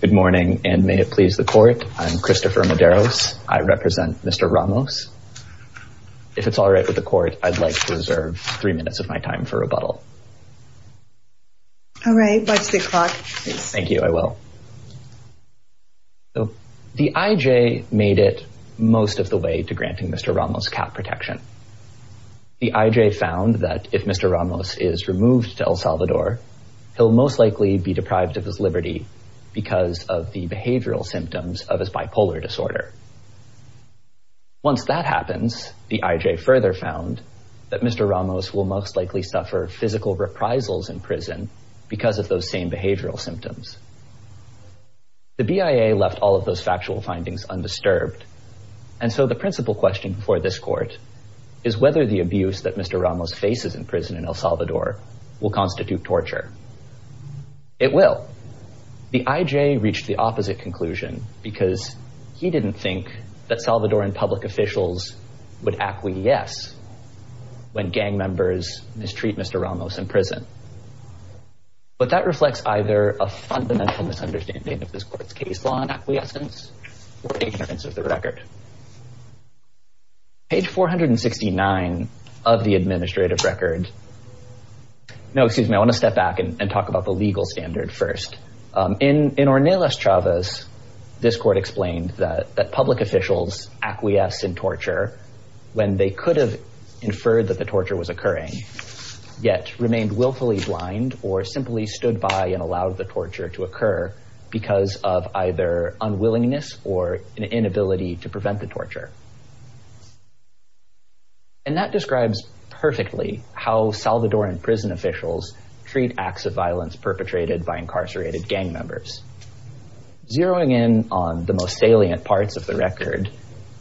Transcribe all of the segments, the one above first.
Good morning, and may it please the court, I'm Christopher Medeiros, I represent Mr. Ramos. If it's alright with the court, I'd like to reserve three minutes of my time for rebuttal. Alright, watch the clock. Thank you, I will. The IJ made it most of the way to granting Mr. Ramos cat protection. The IJ found that if Mr. Ramos is removed to El Salvador, he'll most likely be deprived of his liberty because of the behavioral symptoms of his bipolar disorder. Once that happens, the IJ further found that Mr. Ramos will most likely suffer physical reprisals in prison because of those same behavioral symptoms. The BIA left all of those factual findings undisturbed, and so the principal question for this court is whether the abuse that Mr. Ramos faces in prison in El Salvador will constitute torture. It will. The IJ reached the opposite conclusion because he didn't think that Salvadoran public officials would acquiesce when gang members mistreat Mr. Ramos in prison. But that reflects either a fundamental misunderstanding of this court's case law and acquiescence, or ignorance of the record. Page 469 of the administrative record... No, excuse me, I want to step back and talk about the legal standard first. In Ornelas Chavez, this court explained that public officials acquiesce in torture when they could have inferred that the torture was occurring, yet remained willfully blind or simply stood by and allowed the torture to occur because of either unwillingness or an inability to prevent the torture. And that describes perfectly how Salvadoran prison officials treat acts of violence perpetrated by incarcerated gang members. Zeroing in on the most salient parts of the record,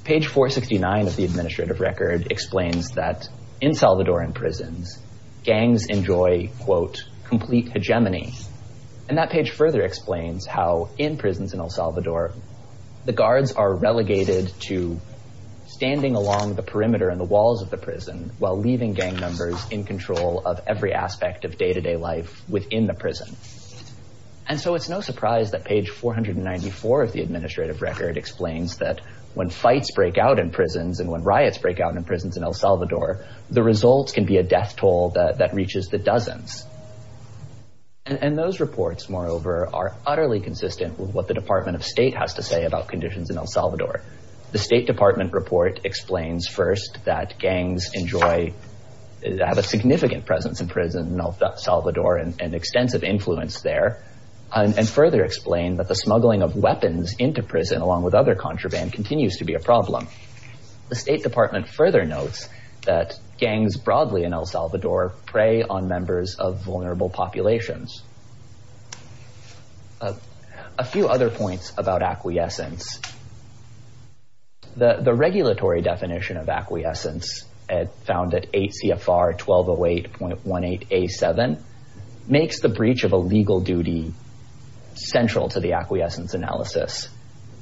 page 469 of the administrative record explains that in Salvadoran prisons, gangs enjoy, quote, complete hegemony. And that page further explains how in prisons in El Salvador, the guards are relegated to standing along the perimeter and the walls of the prison while leaving gang members in control of every aspect of day-to-day life within the prison. And so it's no surprise that page 494 of the administrative record explains that when fights break out in prisons and when riots break out in prisons in El Salvador, the results can be a death toll that reaches the dozens. And those reports, moreover, are utterly consistent with what the Department of State has to say about conditions in El Salvador. The State Department report explains first that gangs enjoy, have a significant presence in prison in El Salvador and extensive influence there, and further explain that the smuggling of weapons into prison along with other contraband continues to be a problem. The State Department further notes that gangs broadly in El Salvador prey on members of vulnerable populations. A few other points about acquiescence. The regulatory definition of acquiescence found at ACFR 1208.18A7 makes the breach of a legal duty central to the acquiescence analysis.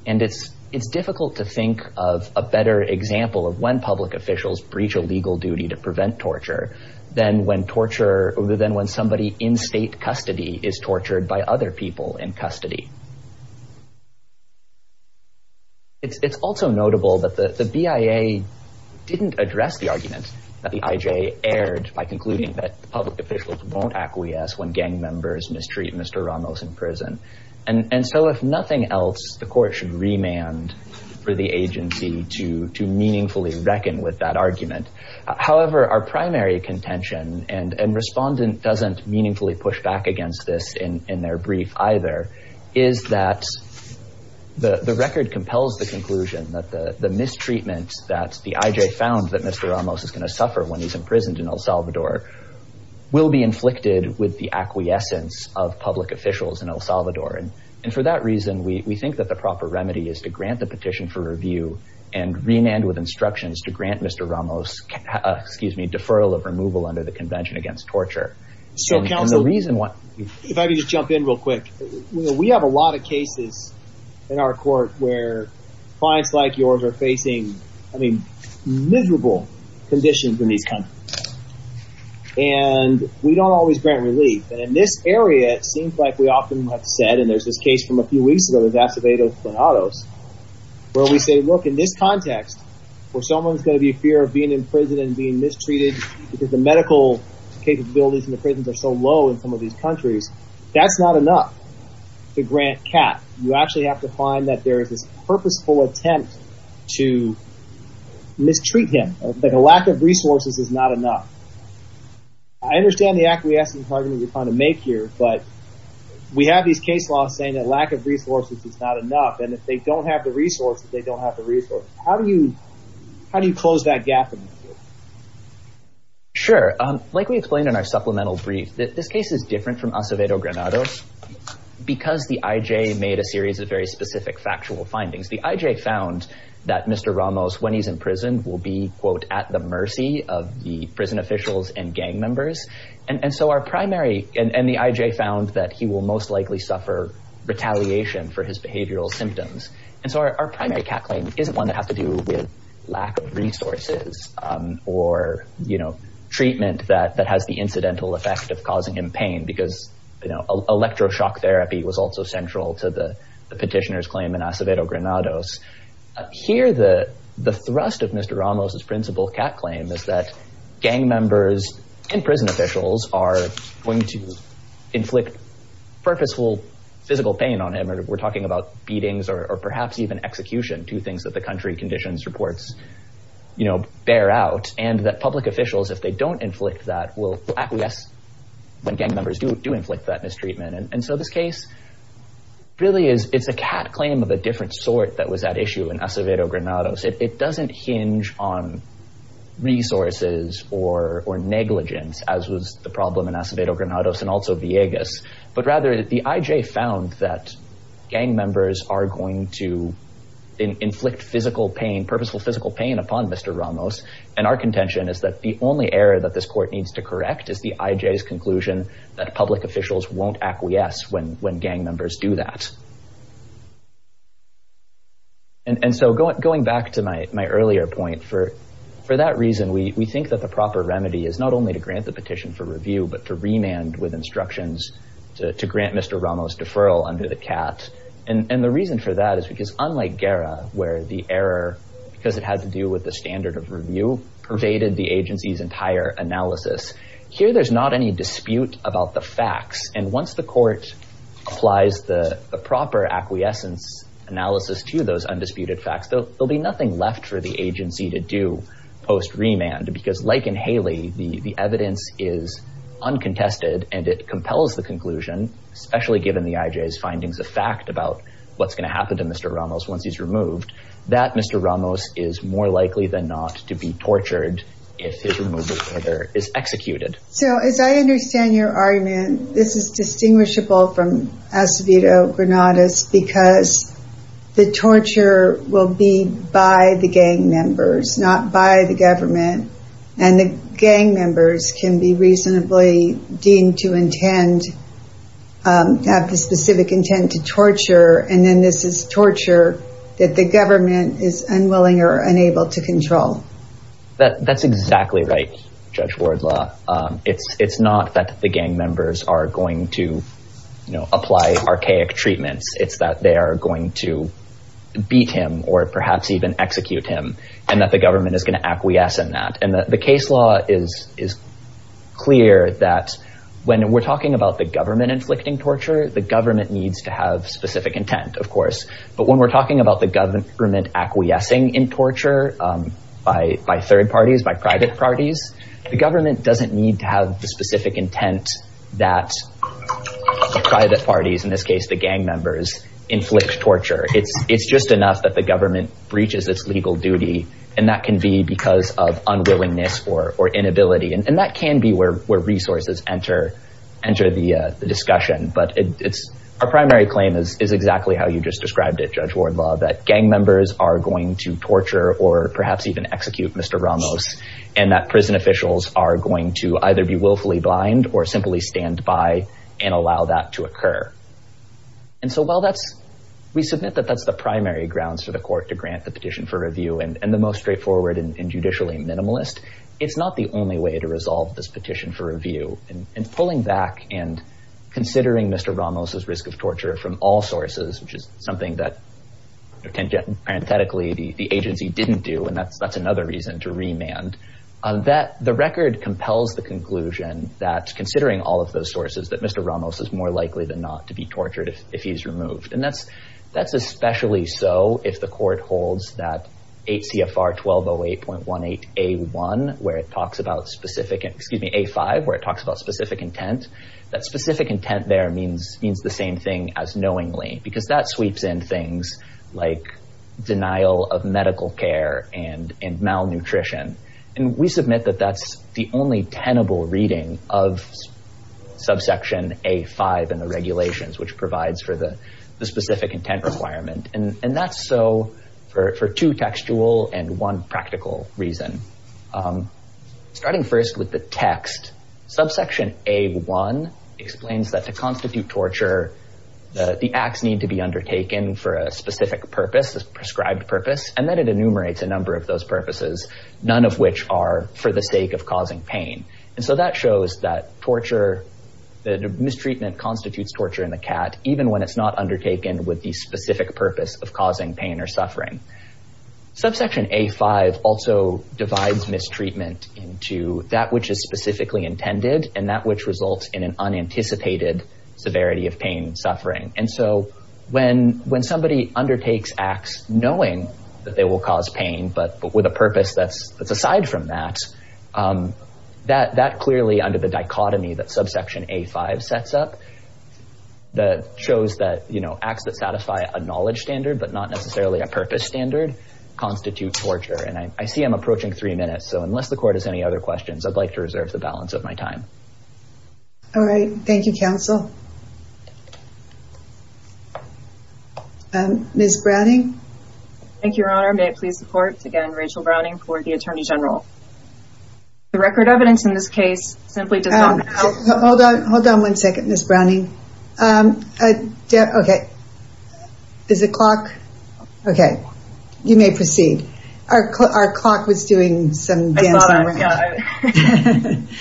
And it's difficult to think of a better example of when public officials breach a legal duty to prevent torture than when torture, than when somebody in state custody is tortured by other people in custody. It's also notable that the BIA didn't address the argument that the IJ aired by concluding that public officials won't acquiesce when gang members mistreat Mr. Ramos in prison. And so if nothing else, the court should remand for the agency to meaningfully reckon with that argument. However, our primary contention, and respondent doesn't meaningfully push back against this in their brief either, is that the record compels the conclusion that the mistreatment that the IJ found that Mr. Ramos is going to suffer when he's imprisoned in El Salvador will be inflicted with the acquiescence of public officials in El Salvador. And for that reason, we think that the proper remedy is to grant the petition for review and remand with instructions to grant Mr. Ramos, excuse me, deferral of removal under the Convention Against Torture. If I could just jump in real quick. We have a lot of cases in our court where clients like yours are facing, I mean, miserable conditions when these come. And we don't always grant relief. And in this area, it seems like we often have said, and there's this case from a few weeks ago, where we say, look, in this context, where someone's going to be fear of being in prison and being mistreated because the medical capabilities in the prisons are so low in some of these countries, that's not enough to grant cap. You actually have to find that there is this purposeful attempt to mistreat him. Like a lack of resources is not enough. I understand the acquiescence argument you're trying to make here. But we have these case laws saying that lack of resources is not enough. And if they don't have the resources, they don't have the resources. How do you close that gap? Sure. Like we explained in our supplemental brief, this case is different from Acevedo Granados because the IJ made a series of very specific factual findings. The IJ found that Mr. Ramos, when he's in prison, will be, quote, at the mercy of the prison officials and gang members. And so our primary – and the IJ found that he will most likely suffer retaliation for his behavioral symptoms. And so our primary cat claim isn't one that has to do with lack of resources or, you know, treatment that has the incidental effect of causing him pain because, you know, electroshock therapy was also central to the petitioner's claim in Acevedo Granados. Here, the thrust of Mr. Ramos' principal cat claim is that gang members and prison officials are going to inflict purposeful physical pain on him. We're talking about beatings or perhaps even execution, two things that the country conditions reports, you know, bear out. And that public officials, if they don't inflict that, will acquiesce when gang members do inflict that mistreatment. And so this case really is – it's a cat claim of a different sort that was at issue in Acevedo Granados. It doesn't hinge on resources or negligence, as was the problem in Acevedo Granados and also Villegas. But rather, the IJ found that gang members are going to inflict physical pain, purposeful physical pain upon Mr. Ramos. And our contention is that the only error that this court needs to correct is the IJ's conclusion that public officials won't acquiesce when gang members do that. And so going back to my earlier point, for that reason, we think that the proper remedy is not only to grant the petition for review but to remand with instructions to grant Mr. Ramos' deferral under the cat. And the reason for that is because unlike Guerra, where the error, because it had to do with the standard of review, pervaded the agency's entire analysis, here there's not any dispute about the facts. And once the court applies the proper acquiescence analysis to those undisputed facts, there'll be nothing left for the agency to do post-remand. Because like in Haley, the evidence is uncontested and it compels the conclusion, especially given the IJ's findings of fact about what's going to happen to Mr. Ramos once he's removed, that Mr. Ramos is more likely than not to be tortured if his removal order is executed. So as I understand your argument, this is distinguishable from Acevedo-Granados because the torture will be by the gang members, not by the government. And the gang members can be reasonably deemed to intend, have the specific intent to torture, and then this is torture that the government is unwilling or unable to control. That's exactly right, Judge Wardlaw. It's not that the gang members are going to apply archaic treatments. It's that they are going to beat him or perhaps even execute him and that the government is going to acquiesce in that. And the case law is clear that when we're talking about the government inflicting torture, the government needs to have specific intent, of course. But when we're talking about the government acquiescing in torture by third parties, by private parties, the government doesn't need to have the specific intent that private parties, in this case the gang members, inflict torture. It's just enough that the government breaches its legal duty and that can be because of unwillingness or inability. And that can be where resources enter the discussion. But our primary claim is exactly how you just described it, Judge Wardlaw, that gang members are going to torture or perhaps even execute Mr. Ramos and that prison officials are going to either be willfully blind or simply stand by and allow that to occur. And so while we submit that that's the primary grounds for the court to grant the petition for review and the most straightforward and judicially minimalist, it's not the only way to resolve this petition for review. In pulling back and considering Mr. Ramos' risk of torture from all sources, which is something that parenthetically the agency didn't do, and that's another reason to remand, the record compels the conclusion that considering all of those sources that Mr. Ramos is more likely than not to be tortured if he's removed. And that's especially so if the court holds that 8 CFR 1208.18A1, where it talks about specific, excuse me, A5, where it talks about specific intent. That specific intent there means the same thing as knowingly, because that sweeps in things like denial of medical care and malnutrition. And we submit that that's the only tenable reading of subsection A5 in the regulations, which provides for the specific intent requirement. And that's so for two textual and one practical reason. Starting first with the text, subsection A1 explains that to constitute torture, the acts need to be undertaken for a specific purpose, a prescribed purpose, and that it enumerates a number of those purposes, none of which are for the sake of causing pain. And so that shows that torture, that mistreatment constitutes torture in the cat, even when it's not undertaken with the specific purpose of causing pain or suffering. Subsection A5 also divides mistreatment into that which is specifically intended and that which results in an unanticipated severity of pain and suffering. And so when when somebody undertakes acts knowing that they will cause pain, but with a purpose that's aside from that, that that clearly under the dichotomy that subsection A5 sets up that shows that, you know, acts that satisfy a knowledge standard, but not necessarily a purpose standard constitute torture. And I see I'm approaching three minutes. So unless the court has any other questions, I'd like to reserve the balance of my time. All right. Thank you, counsel. Ms. Browning. Thank you, Your Honor. May it please the court. Again, Rachel Browning for the attorney general. The record evidence in this case simply does not help. Hold on. Hold on one second, Ms. Browning. OK. Is it clock? OK, you may proceed. Our clock was doing some dancing.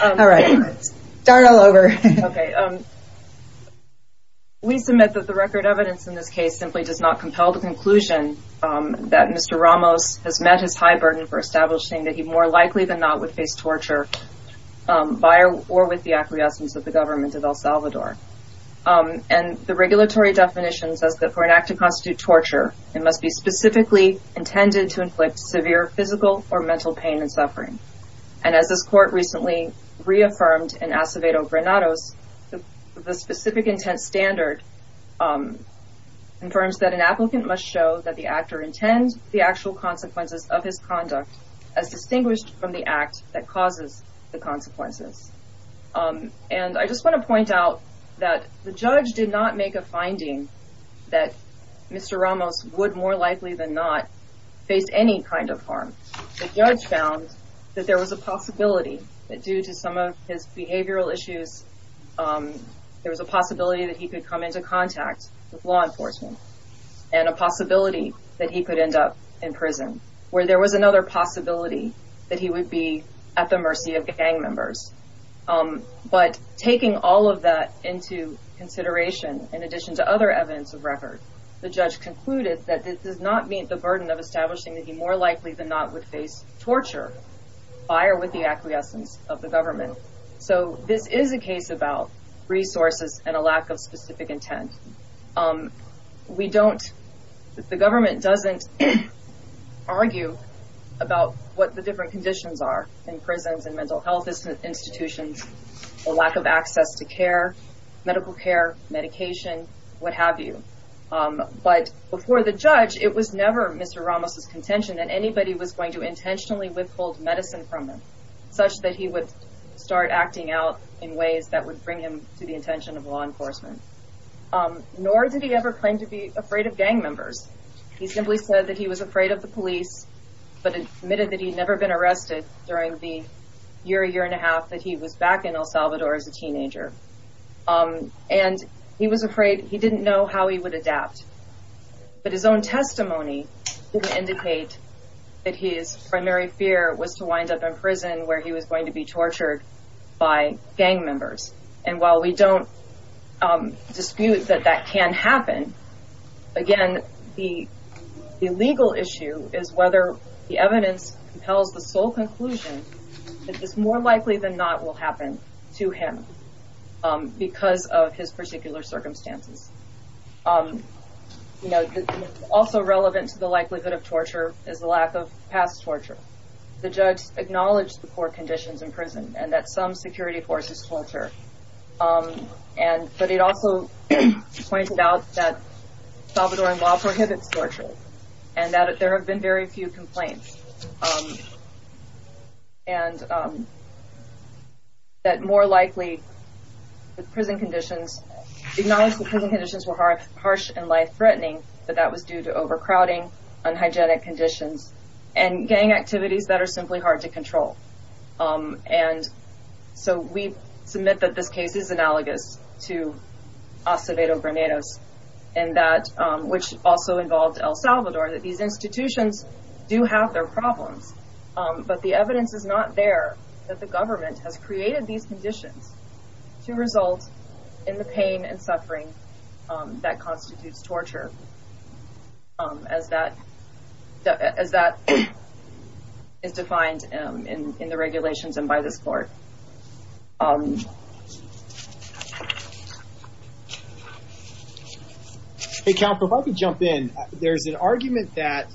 All right. Start all over. OK. We submit that the record evidence in this case simply does not compel the conclusion that Mr. Ramos has met his high burden for establishing that he more likely than not would face torture by or with the acquiescence of the government of El Salvador. And the regulatory definition says that for an act to constitute torture, it must be specifically intended to inflict severe physical or mental pain and suffering. And as this court recently reaffirmed in Acevedo Granados, the specific intent standard confirms that an applicant must show that the actor intends the actual consequences of his conduct as distinguished from the act that causes the consequences. And I just want to point out that the judge did not make a finding that Mr. Ramos would more likely than not face any kind of harm. The judge found that there was a possibility that due to some of his behavioral issues, there was a possibility that he could come into contact with law enforcement and a possibility that he could end up in prison where there was another possibility that he would be at the mercy of gang members. But taking all of that into consideration, in addition to other evidence of record, the judge concluded that this does not meet the burden of establishing that he more likely than not would face torture by or with the acquiescence of the government. So this is a case about resources and a lack of specific intent. We don't the government doesn't argue about what the different conditions are in prisons and mental health institutions, a lack of access to care, medical care, medication, what have you. But before the judge, it was never Mr. Ramos's contention that anybody was going to intentionally withhold medicine from him such that he would start acting out in ways that would bring him to the attention of law enforcement. Nor did he ever claim to be afraid of gang members. He simply said that he was afraid of the police, but admitted that he'd never been arrested during the year, a year and a half that he was back in El Salvador as a teenager. And he was afraid he didn't know how he would adapt. But his own testimony didn't indicate that his primary fear was to wind up in prison where he was going to be tortured by gang members. And while we don't dispute that that can happen again, the legal issue is whether the evidence compels the sole conclusion that this more likely than not will happen to him because of his particular circumstances. You know, also relevant to the likelihood of torture is the lack of past torture. The judge acknowledged the poor conditions in prison and that some security forces torture. And but it also pointed out that Salvadorian law prohibits torture and that there have been very few complaints. And that more likely the prison conditions, the prison conditions were harsh and life threatening. But that was due to overcrowding, unhygienic conditions and gang activities that are simply hard to control. And so we submit that this case is analogous to Acevedo Grenados and that which also involved El Salvador, that these institutions do have their problems. But the evidence is not there that the government has created these conditions to result in the pain and suffering that constitutes torture. As that as that is defined in the regulations and by this court. Hey, Capra, if I could jump in, there's an argument that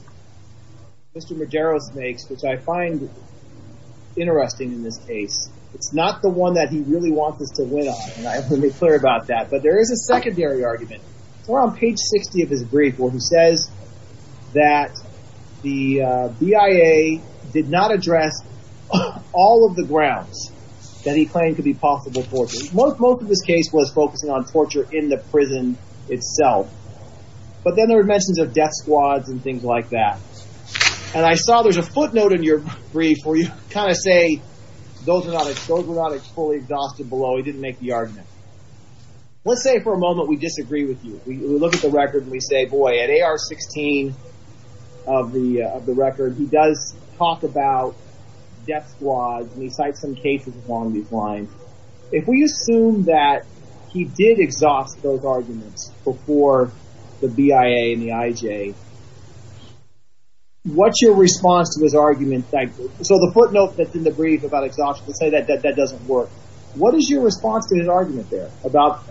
Mr. Madero makes, which I find interesting in this case. It's not the one that he really wants us to win on. Let me be clear about that. But there is a secondary argument on page 60 of his brief where he says that the BIA did not address all of the grounds that he claimed could be possible for most of this case was focusing on torture in the prison itself. But then there were mentions of death squads and things like that. And I saw there's a footnote in your brief where you kind of say those are not those were not fully exhausted below. He didn't make the argument. Let's say for a moment we disagree with you. We look at the record and we say, boy, they are 16 of the of the record. He does talk about death squads and he cites some cases along these lines. If we assume that he did exhaust those arguments before the BIA and the IJ, what's your response to his argument? So the footnote that's in the brief about exhaustion to say that that doesn't work. What is your response to his argument there about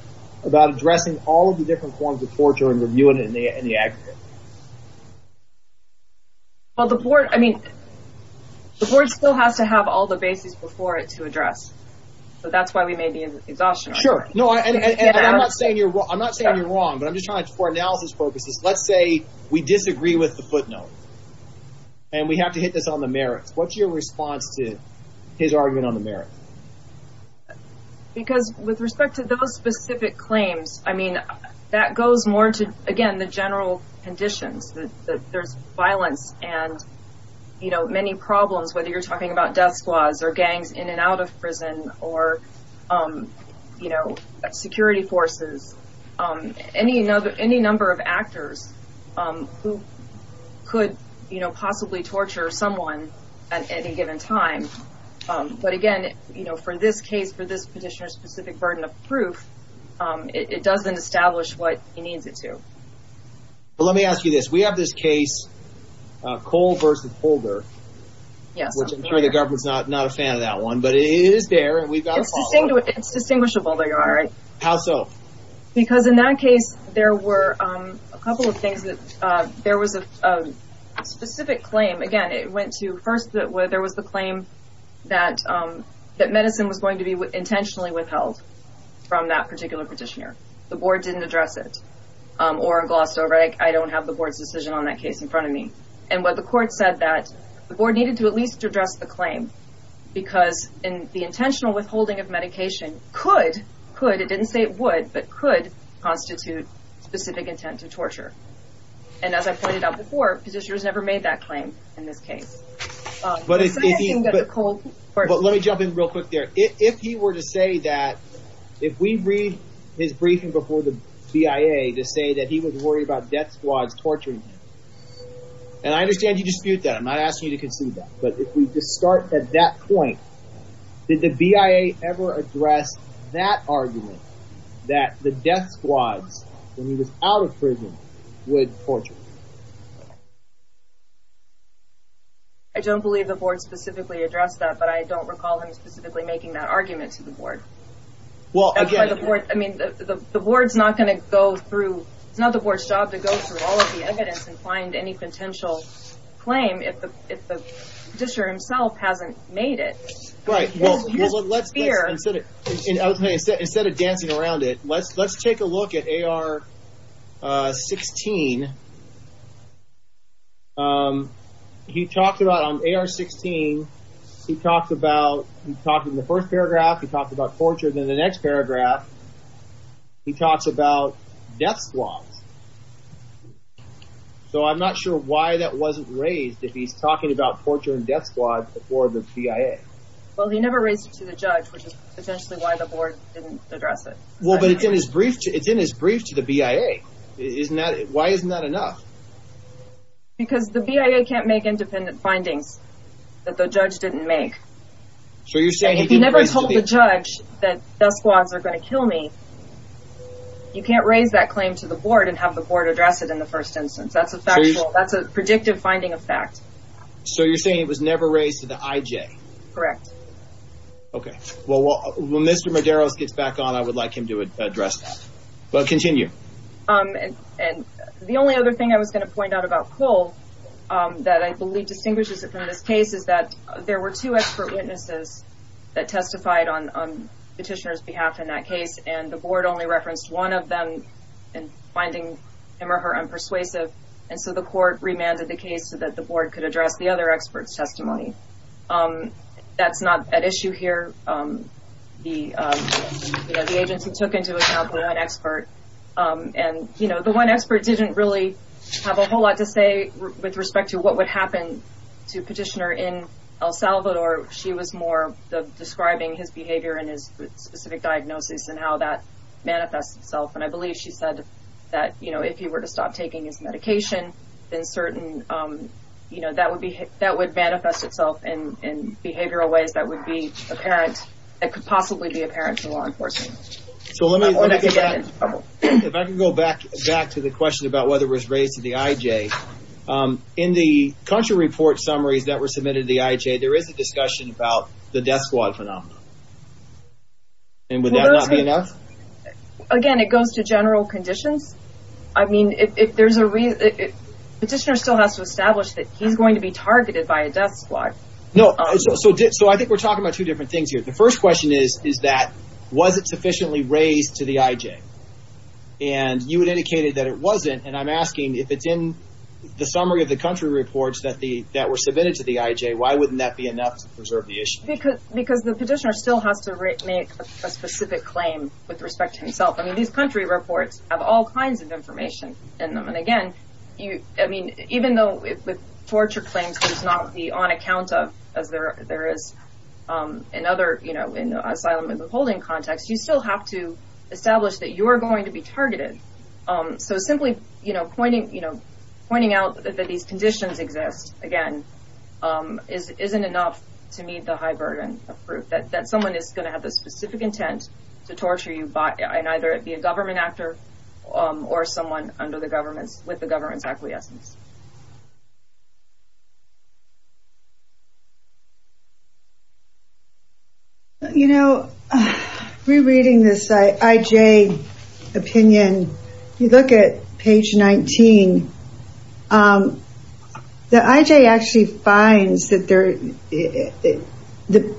about addressing all of the different forms of torture and the new and the aggregate? Well, the board, I mean, the board still has to have all the bases before it to address. So that's why we made the exhaustion. Sure. No, I'm not saying you're wrong. I'm not saying you're wrong, but I'm just trying to for analysis purposes. Let's say we disagree with the footnote. And we have to hit this on the merits. What's your response to his argument on the merit? Because with respect to those specific claims, I mean, that goes more to, again, the general conditions that there's violence. And, you know, many problems, whether you're talking about death squads or gangs in and out of prison or, you know, security forces. Any another any number of actors who could possibly torture someone at any given time. But again, you know, for this case, for this petitioner specific burden of proof, it doesn't establish what he needs it to. Let me ask you this. We have this case, Cole versus Holder. Yes. I'm sure the government's not not a fan of that one, but it is there. It's distinguishable. There you are. How so? Because in that case, there were a couple of things that there was a specific claim. Again, it went to first that where there was the claim that that medicine was going to be intentionally withheld from that particular petitioner. The board didn't address it or glossed over. I don't have the board's decision on that case in front of me. And what the court said that the board needed to at least address the claim, because in the intentional withholding of medication could could. It didn't say it would, but could constitute specific intent to torture. And as I pointed out before, petitioners never made that claim in this case. But it's cold. Let me jump in real quick there. If he were to say that if we read his briefing before the CIA to say that he was worried about death squads torturing. And I understand you dispute that. I'm not asking you to concede that. But if we just start at that point, did the BIA ever address that argument that the death squads when he was out of prison would torture? I don't believe the board specifically addressed that, but I don't recall him specifically making that argument to the board. Well, I mean, the board's not going to go through. It's not the board's job to go through all of the evidence and find any potential claim. If the district himself hasn't made it. Right. Well, let's consider it instead of dancing around it. Let's let's take a look at A.R. 16. He talked about on A.R. 16, he talked about he talked in the first paragraph, he talked about torture. Then the next paragraph, he talks about death squads. So I'm not sure why that wasn't raised if he's talking about torture and death squads before the CIA. Well, he never raised it to the judge, which is potentially why the board didn't address it. Well, but it's in his brief. It's in his brief to the BIA. Isn't that why isn't that enough? Because the BIA can't make independent findings that the judge didn't make. So you're saying he never told the judge that death squads are going to kill me. You can't raise that claim to the board and have the board address it in the first instance. That's a fact. That's a predictive finding of fact. So you're saying it was never raised to the IJ. Correct. OK, well, when Mr. Medeiros gets back on, I would like him to address that, but continue. And the only other thing I was going to point out about Cole that I believe distinguishes it from this case is that there were two expert witnesses that testified on petitioner's behalf in that case. And the board only referenced one of them in finding him or her unpersuasive. And so the court remanded the case so that the board could address the other experts testimony. That's not an issue here. The agency took into account the one expert. And, you know, the one expert didn't really have a whole lot to say with respect to what would happen to petitioner in El Salvador. She was more describing his behavior and his specific diagnosis and how that manifests itself. And I believe she said that, you know, if he were to stop taking his medication, then certain, you know, that would be that would manifest itself in behavioral ways. That would be apparent. It could possibly be apparent to law enforcement. So let me go back to the question about whether it was raised to the IJ. In the country report summaries that were submitted to the IJ, there is a discussion about the death squad phenomenon. And would that not be enough? Again, it goes to general conditions. I mean, if there's a reason, petitioner still has to establish that he's going to be targeted by a death squad. No. So I think we're talking about two different things here. The first question is, is that was it sufficiently raised to the IJ? And you had indicated that it wasn't. And I'm asking if it's in the summary of the country reports that were submitted to the IJ, why wouldn't that be enough to preserve the issue? Because the petitioner still has to make a specific claim with respect to himself. I mean, these country reports have all kinds of information in them. And again, I mean, even though torture claims does not be on account of, as there is in other, you know, in the asylum and withholding context, you still have to establish that you are going to be targeted. So simply, you know, pointing out that these conditions exist, again, isn't enough to meet the high burden of proof that someone is going to have the specific intent to torture you and either be a government actor or someone under the government, with the government's acquiescence. You know, rereading this IJ opinion, you look at page 19, the IJ actually finds that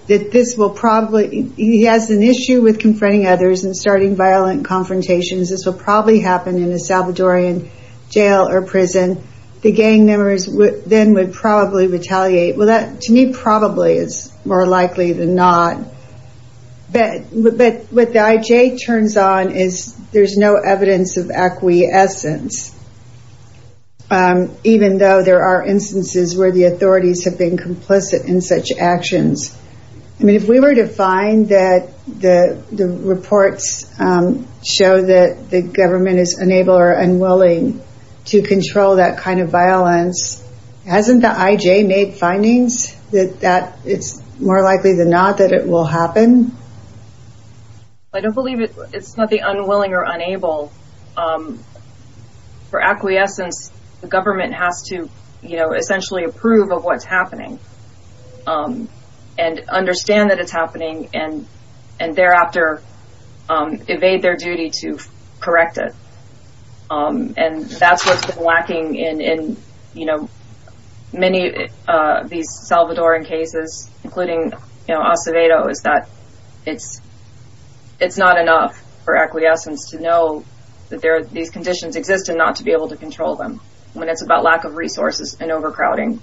this will probably, he has an issue with confronting others and starting violent confrontations. This will probably happen in a Salvadorian jail or prison. The gang members then would probably retaliate. Well, that to me probably is more likely than not. But what the IJ turns on is there's no evidence of acquiescence, even though there are instances where the authorities have been complicit in such actions. I mean, if we were to find that the reports show that the government is unable or unwilling to control that kind of violence, hasn't the IJ made findings that it's more likely than not that it will happen? I don't believe it's not the unwilling or unable. For acquiescence, the government has to, you know, essentially approve of what's happening and understand that it's happening and thereafter evade their duty to correct it. And that's what's been lacking in, you know, many of these Salvadorian cases, including Acevedo, is that it's not enough for acquiescence to know that these conditions exist and not to be able to control them when it's about lack of resources and overcrowding.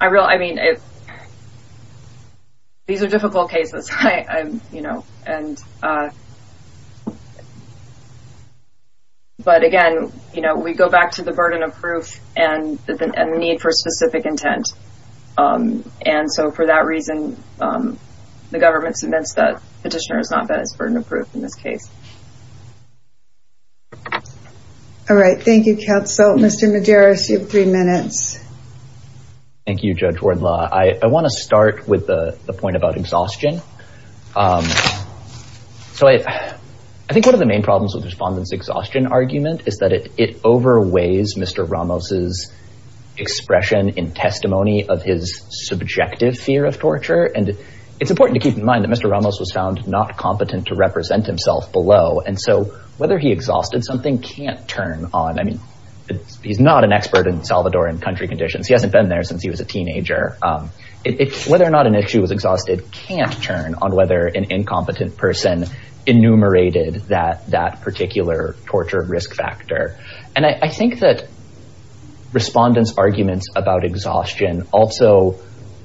I mean, these are difficult cases, you know, but again, you know, we go back to the burden of proof and the need for specific intent. And so for that reason, the government submits that petitioner has not been as burden of proof in this case. All right. Thank you, Kat. So, Mr. Medeiros, you have three minutes. Thank you, Judge Wardlaw. I want to start with the point about exhaustion. So I think one of the main problems with Respondent's exhaustion argument is that it overweighs Mr. Ramos's expression in testimony of his subjective fear of torture. And it's important to keep in mind that Mr. Ramos was found not competent to represent himself below. And so whether he exhausted something can't turn on. I mean, he's not an expert in Salvadorian country conditions. He hasn't been there since he was a teenager. It's whether or not an issue was exhausted can't turn on whether an incompetent person enumerated that particular torture risk factor. And I think that Respondent's arguments about exhaustion also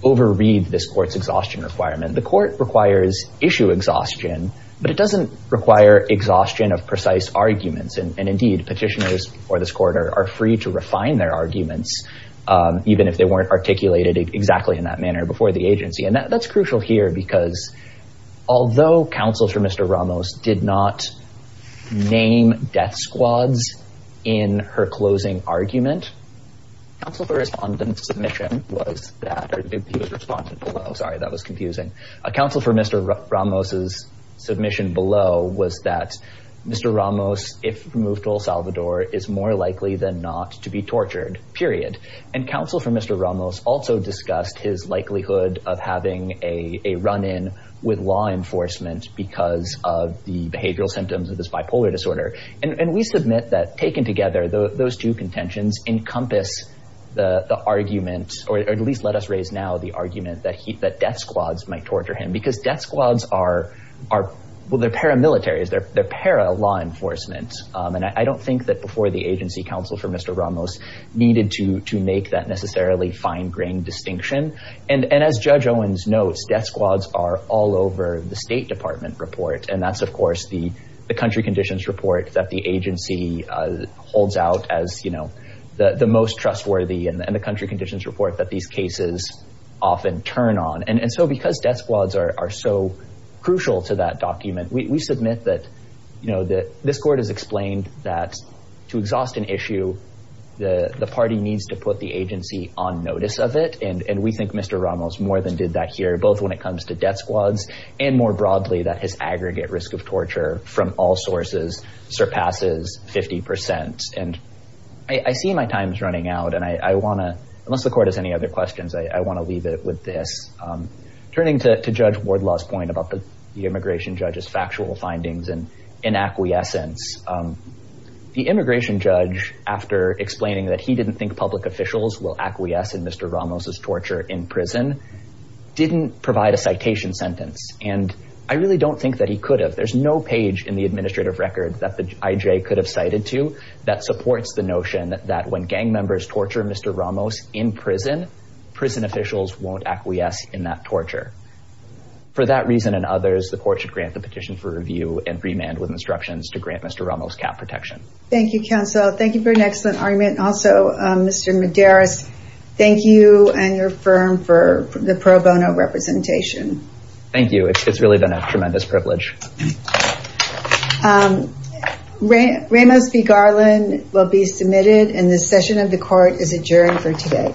overread this court's exhaustion requirement. The court requires issue exhaustion, but it doesn't require exhaustion of precise arguments. And indeed, petitioners or this court are free to refine their arguments, even if they weren't articulated exactly in that manner before the agency. And that's crucial here because although counsel for Mr. Ramos did not name death squads in her closing argument, counsel for Respondent's submission was that, or he was Respondent below. Sorry, that was confusing. Counsel for Mr. Ramos's submission below was that Mr. Ramos, if moved to El Salvador, is more likely than not to be tortured, period. And counsel for Mr. Ramos also discussed his likelihood of having a run-in with law enforcement because of the behavioral symptoms of this bipolar disorder. And we submit that taken together, those two contentions encompass the argument, or at least let us raise now the argument, that death squads might torture him. Because death squads are paramilitaries. They're para-law enforcement. And I don't think that before the agency, counsel for Mr. Ramos needed to make that necessarily fine-grained distinction. And as Judge Owens notes, death squads are all over the State Department report. And that's, of course, the country conditions report that the agency holds out as, you know, the most trustworthy. And the country conditions report that these cases often turn on. And so because death squads are so crucial to that document, we submit that, you know, this court has explained that to exhaust an issue, the party needs to put the agency on notice of it. And we think Mr. Ramos more than did that here, both when it comes to death squads, and more broadly that his aggregate risk of torture from all sources surpasses 50%. And I see my time's running out, and I want to, unless the court has any other questions, I want to leave it with this. Turning to Judge Wardlaw's point about the immigration judge's factual findings and inacquiescence, the immigration judge, after explaining that he didn't think public officials will acquiesce in Mr. Ramos's torture in prison, didn't provide a citation sentence. And I really don't think that he could have. There's no page in the administrative record that the IJ could have cited to that supports the notion that when gang members torture Mr. Ramos in prison, prison officials won't acquiesce in that torture. For that reason and others, the court should grant the petition for review and remand with instructions to grant Mr. Ramos cap protection. Thank you, counsel. Thank you for an excellent argument. Also, Mr. Medeiros, thank you and your firm for the pro bono representation. Thank you. It's really been a tremendous privilege. Ramos v. Garland will be submitted, and the session of the court is adjourned for today.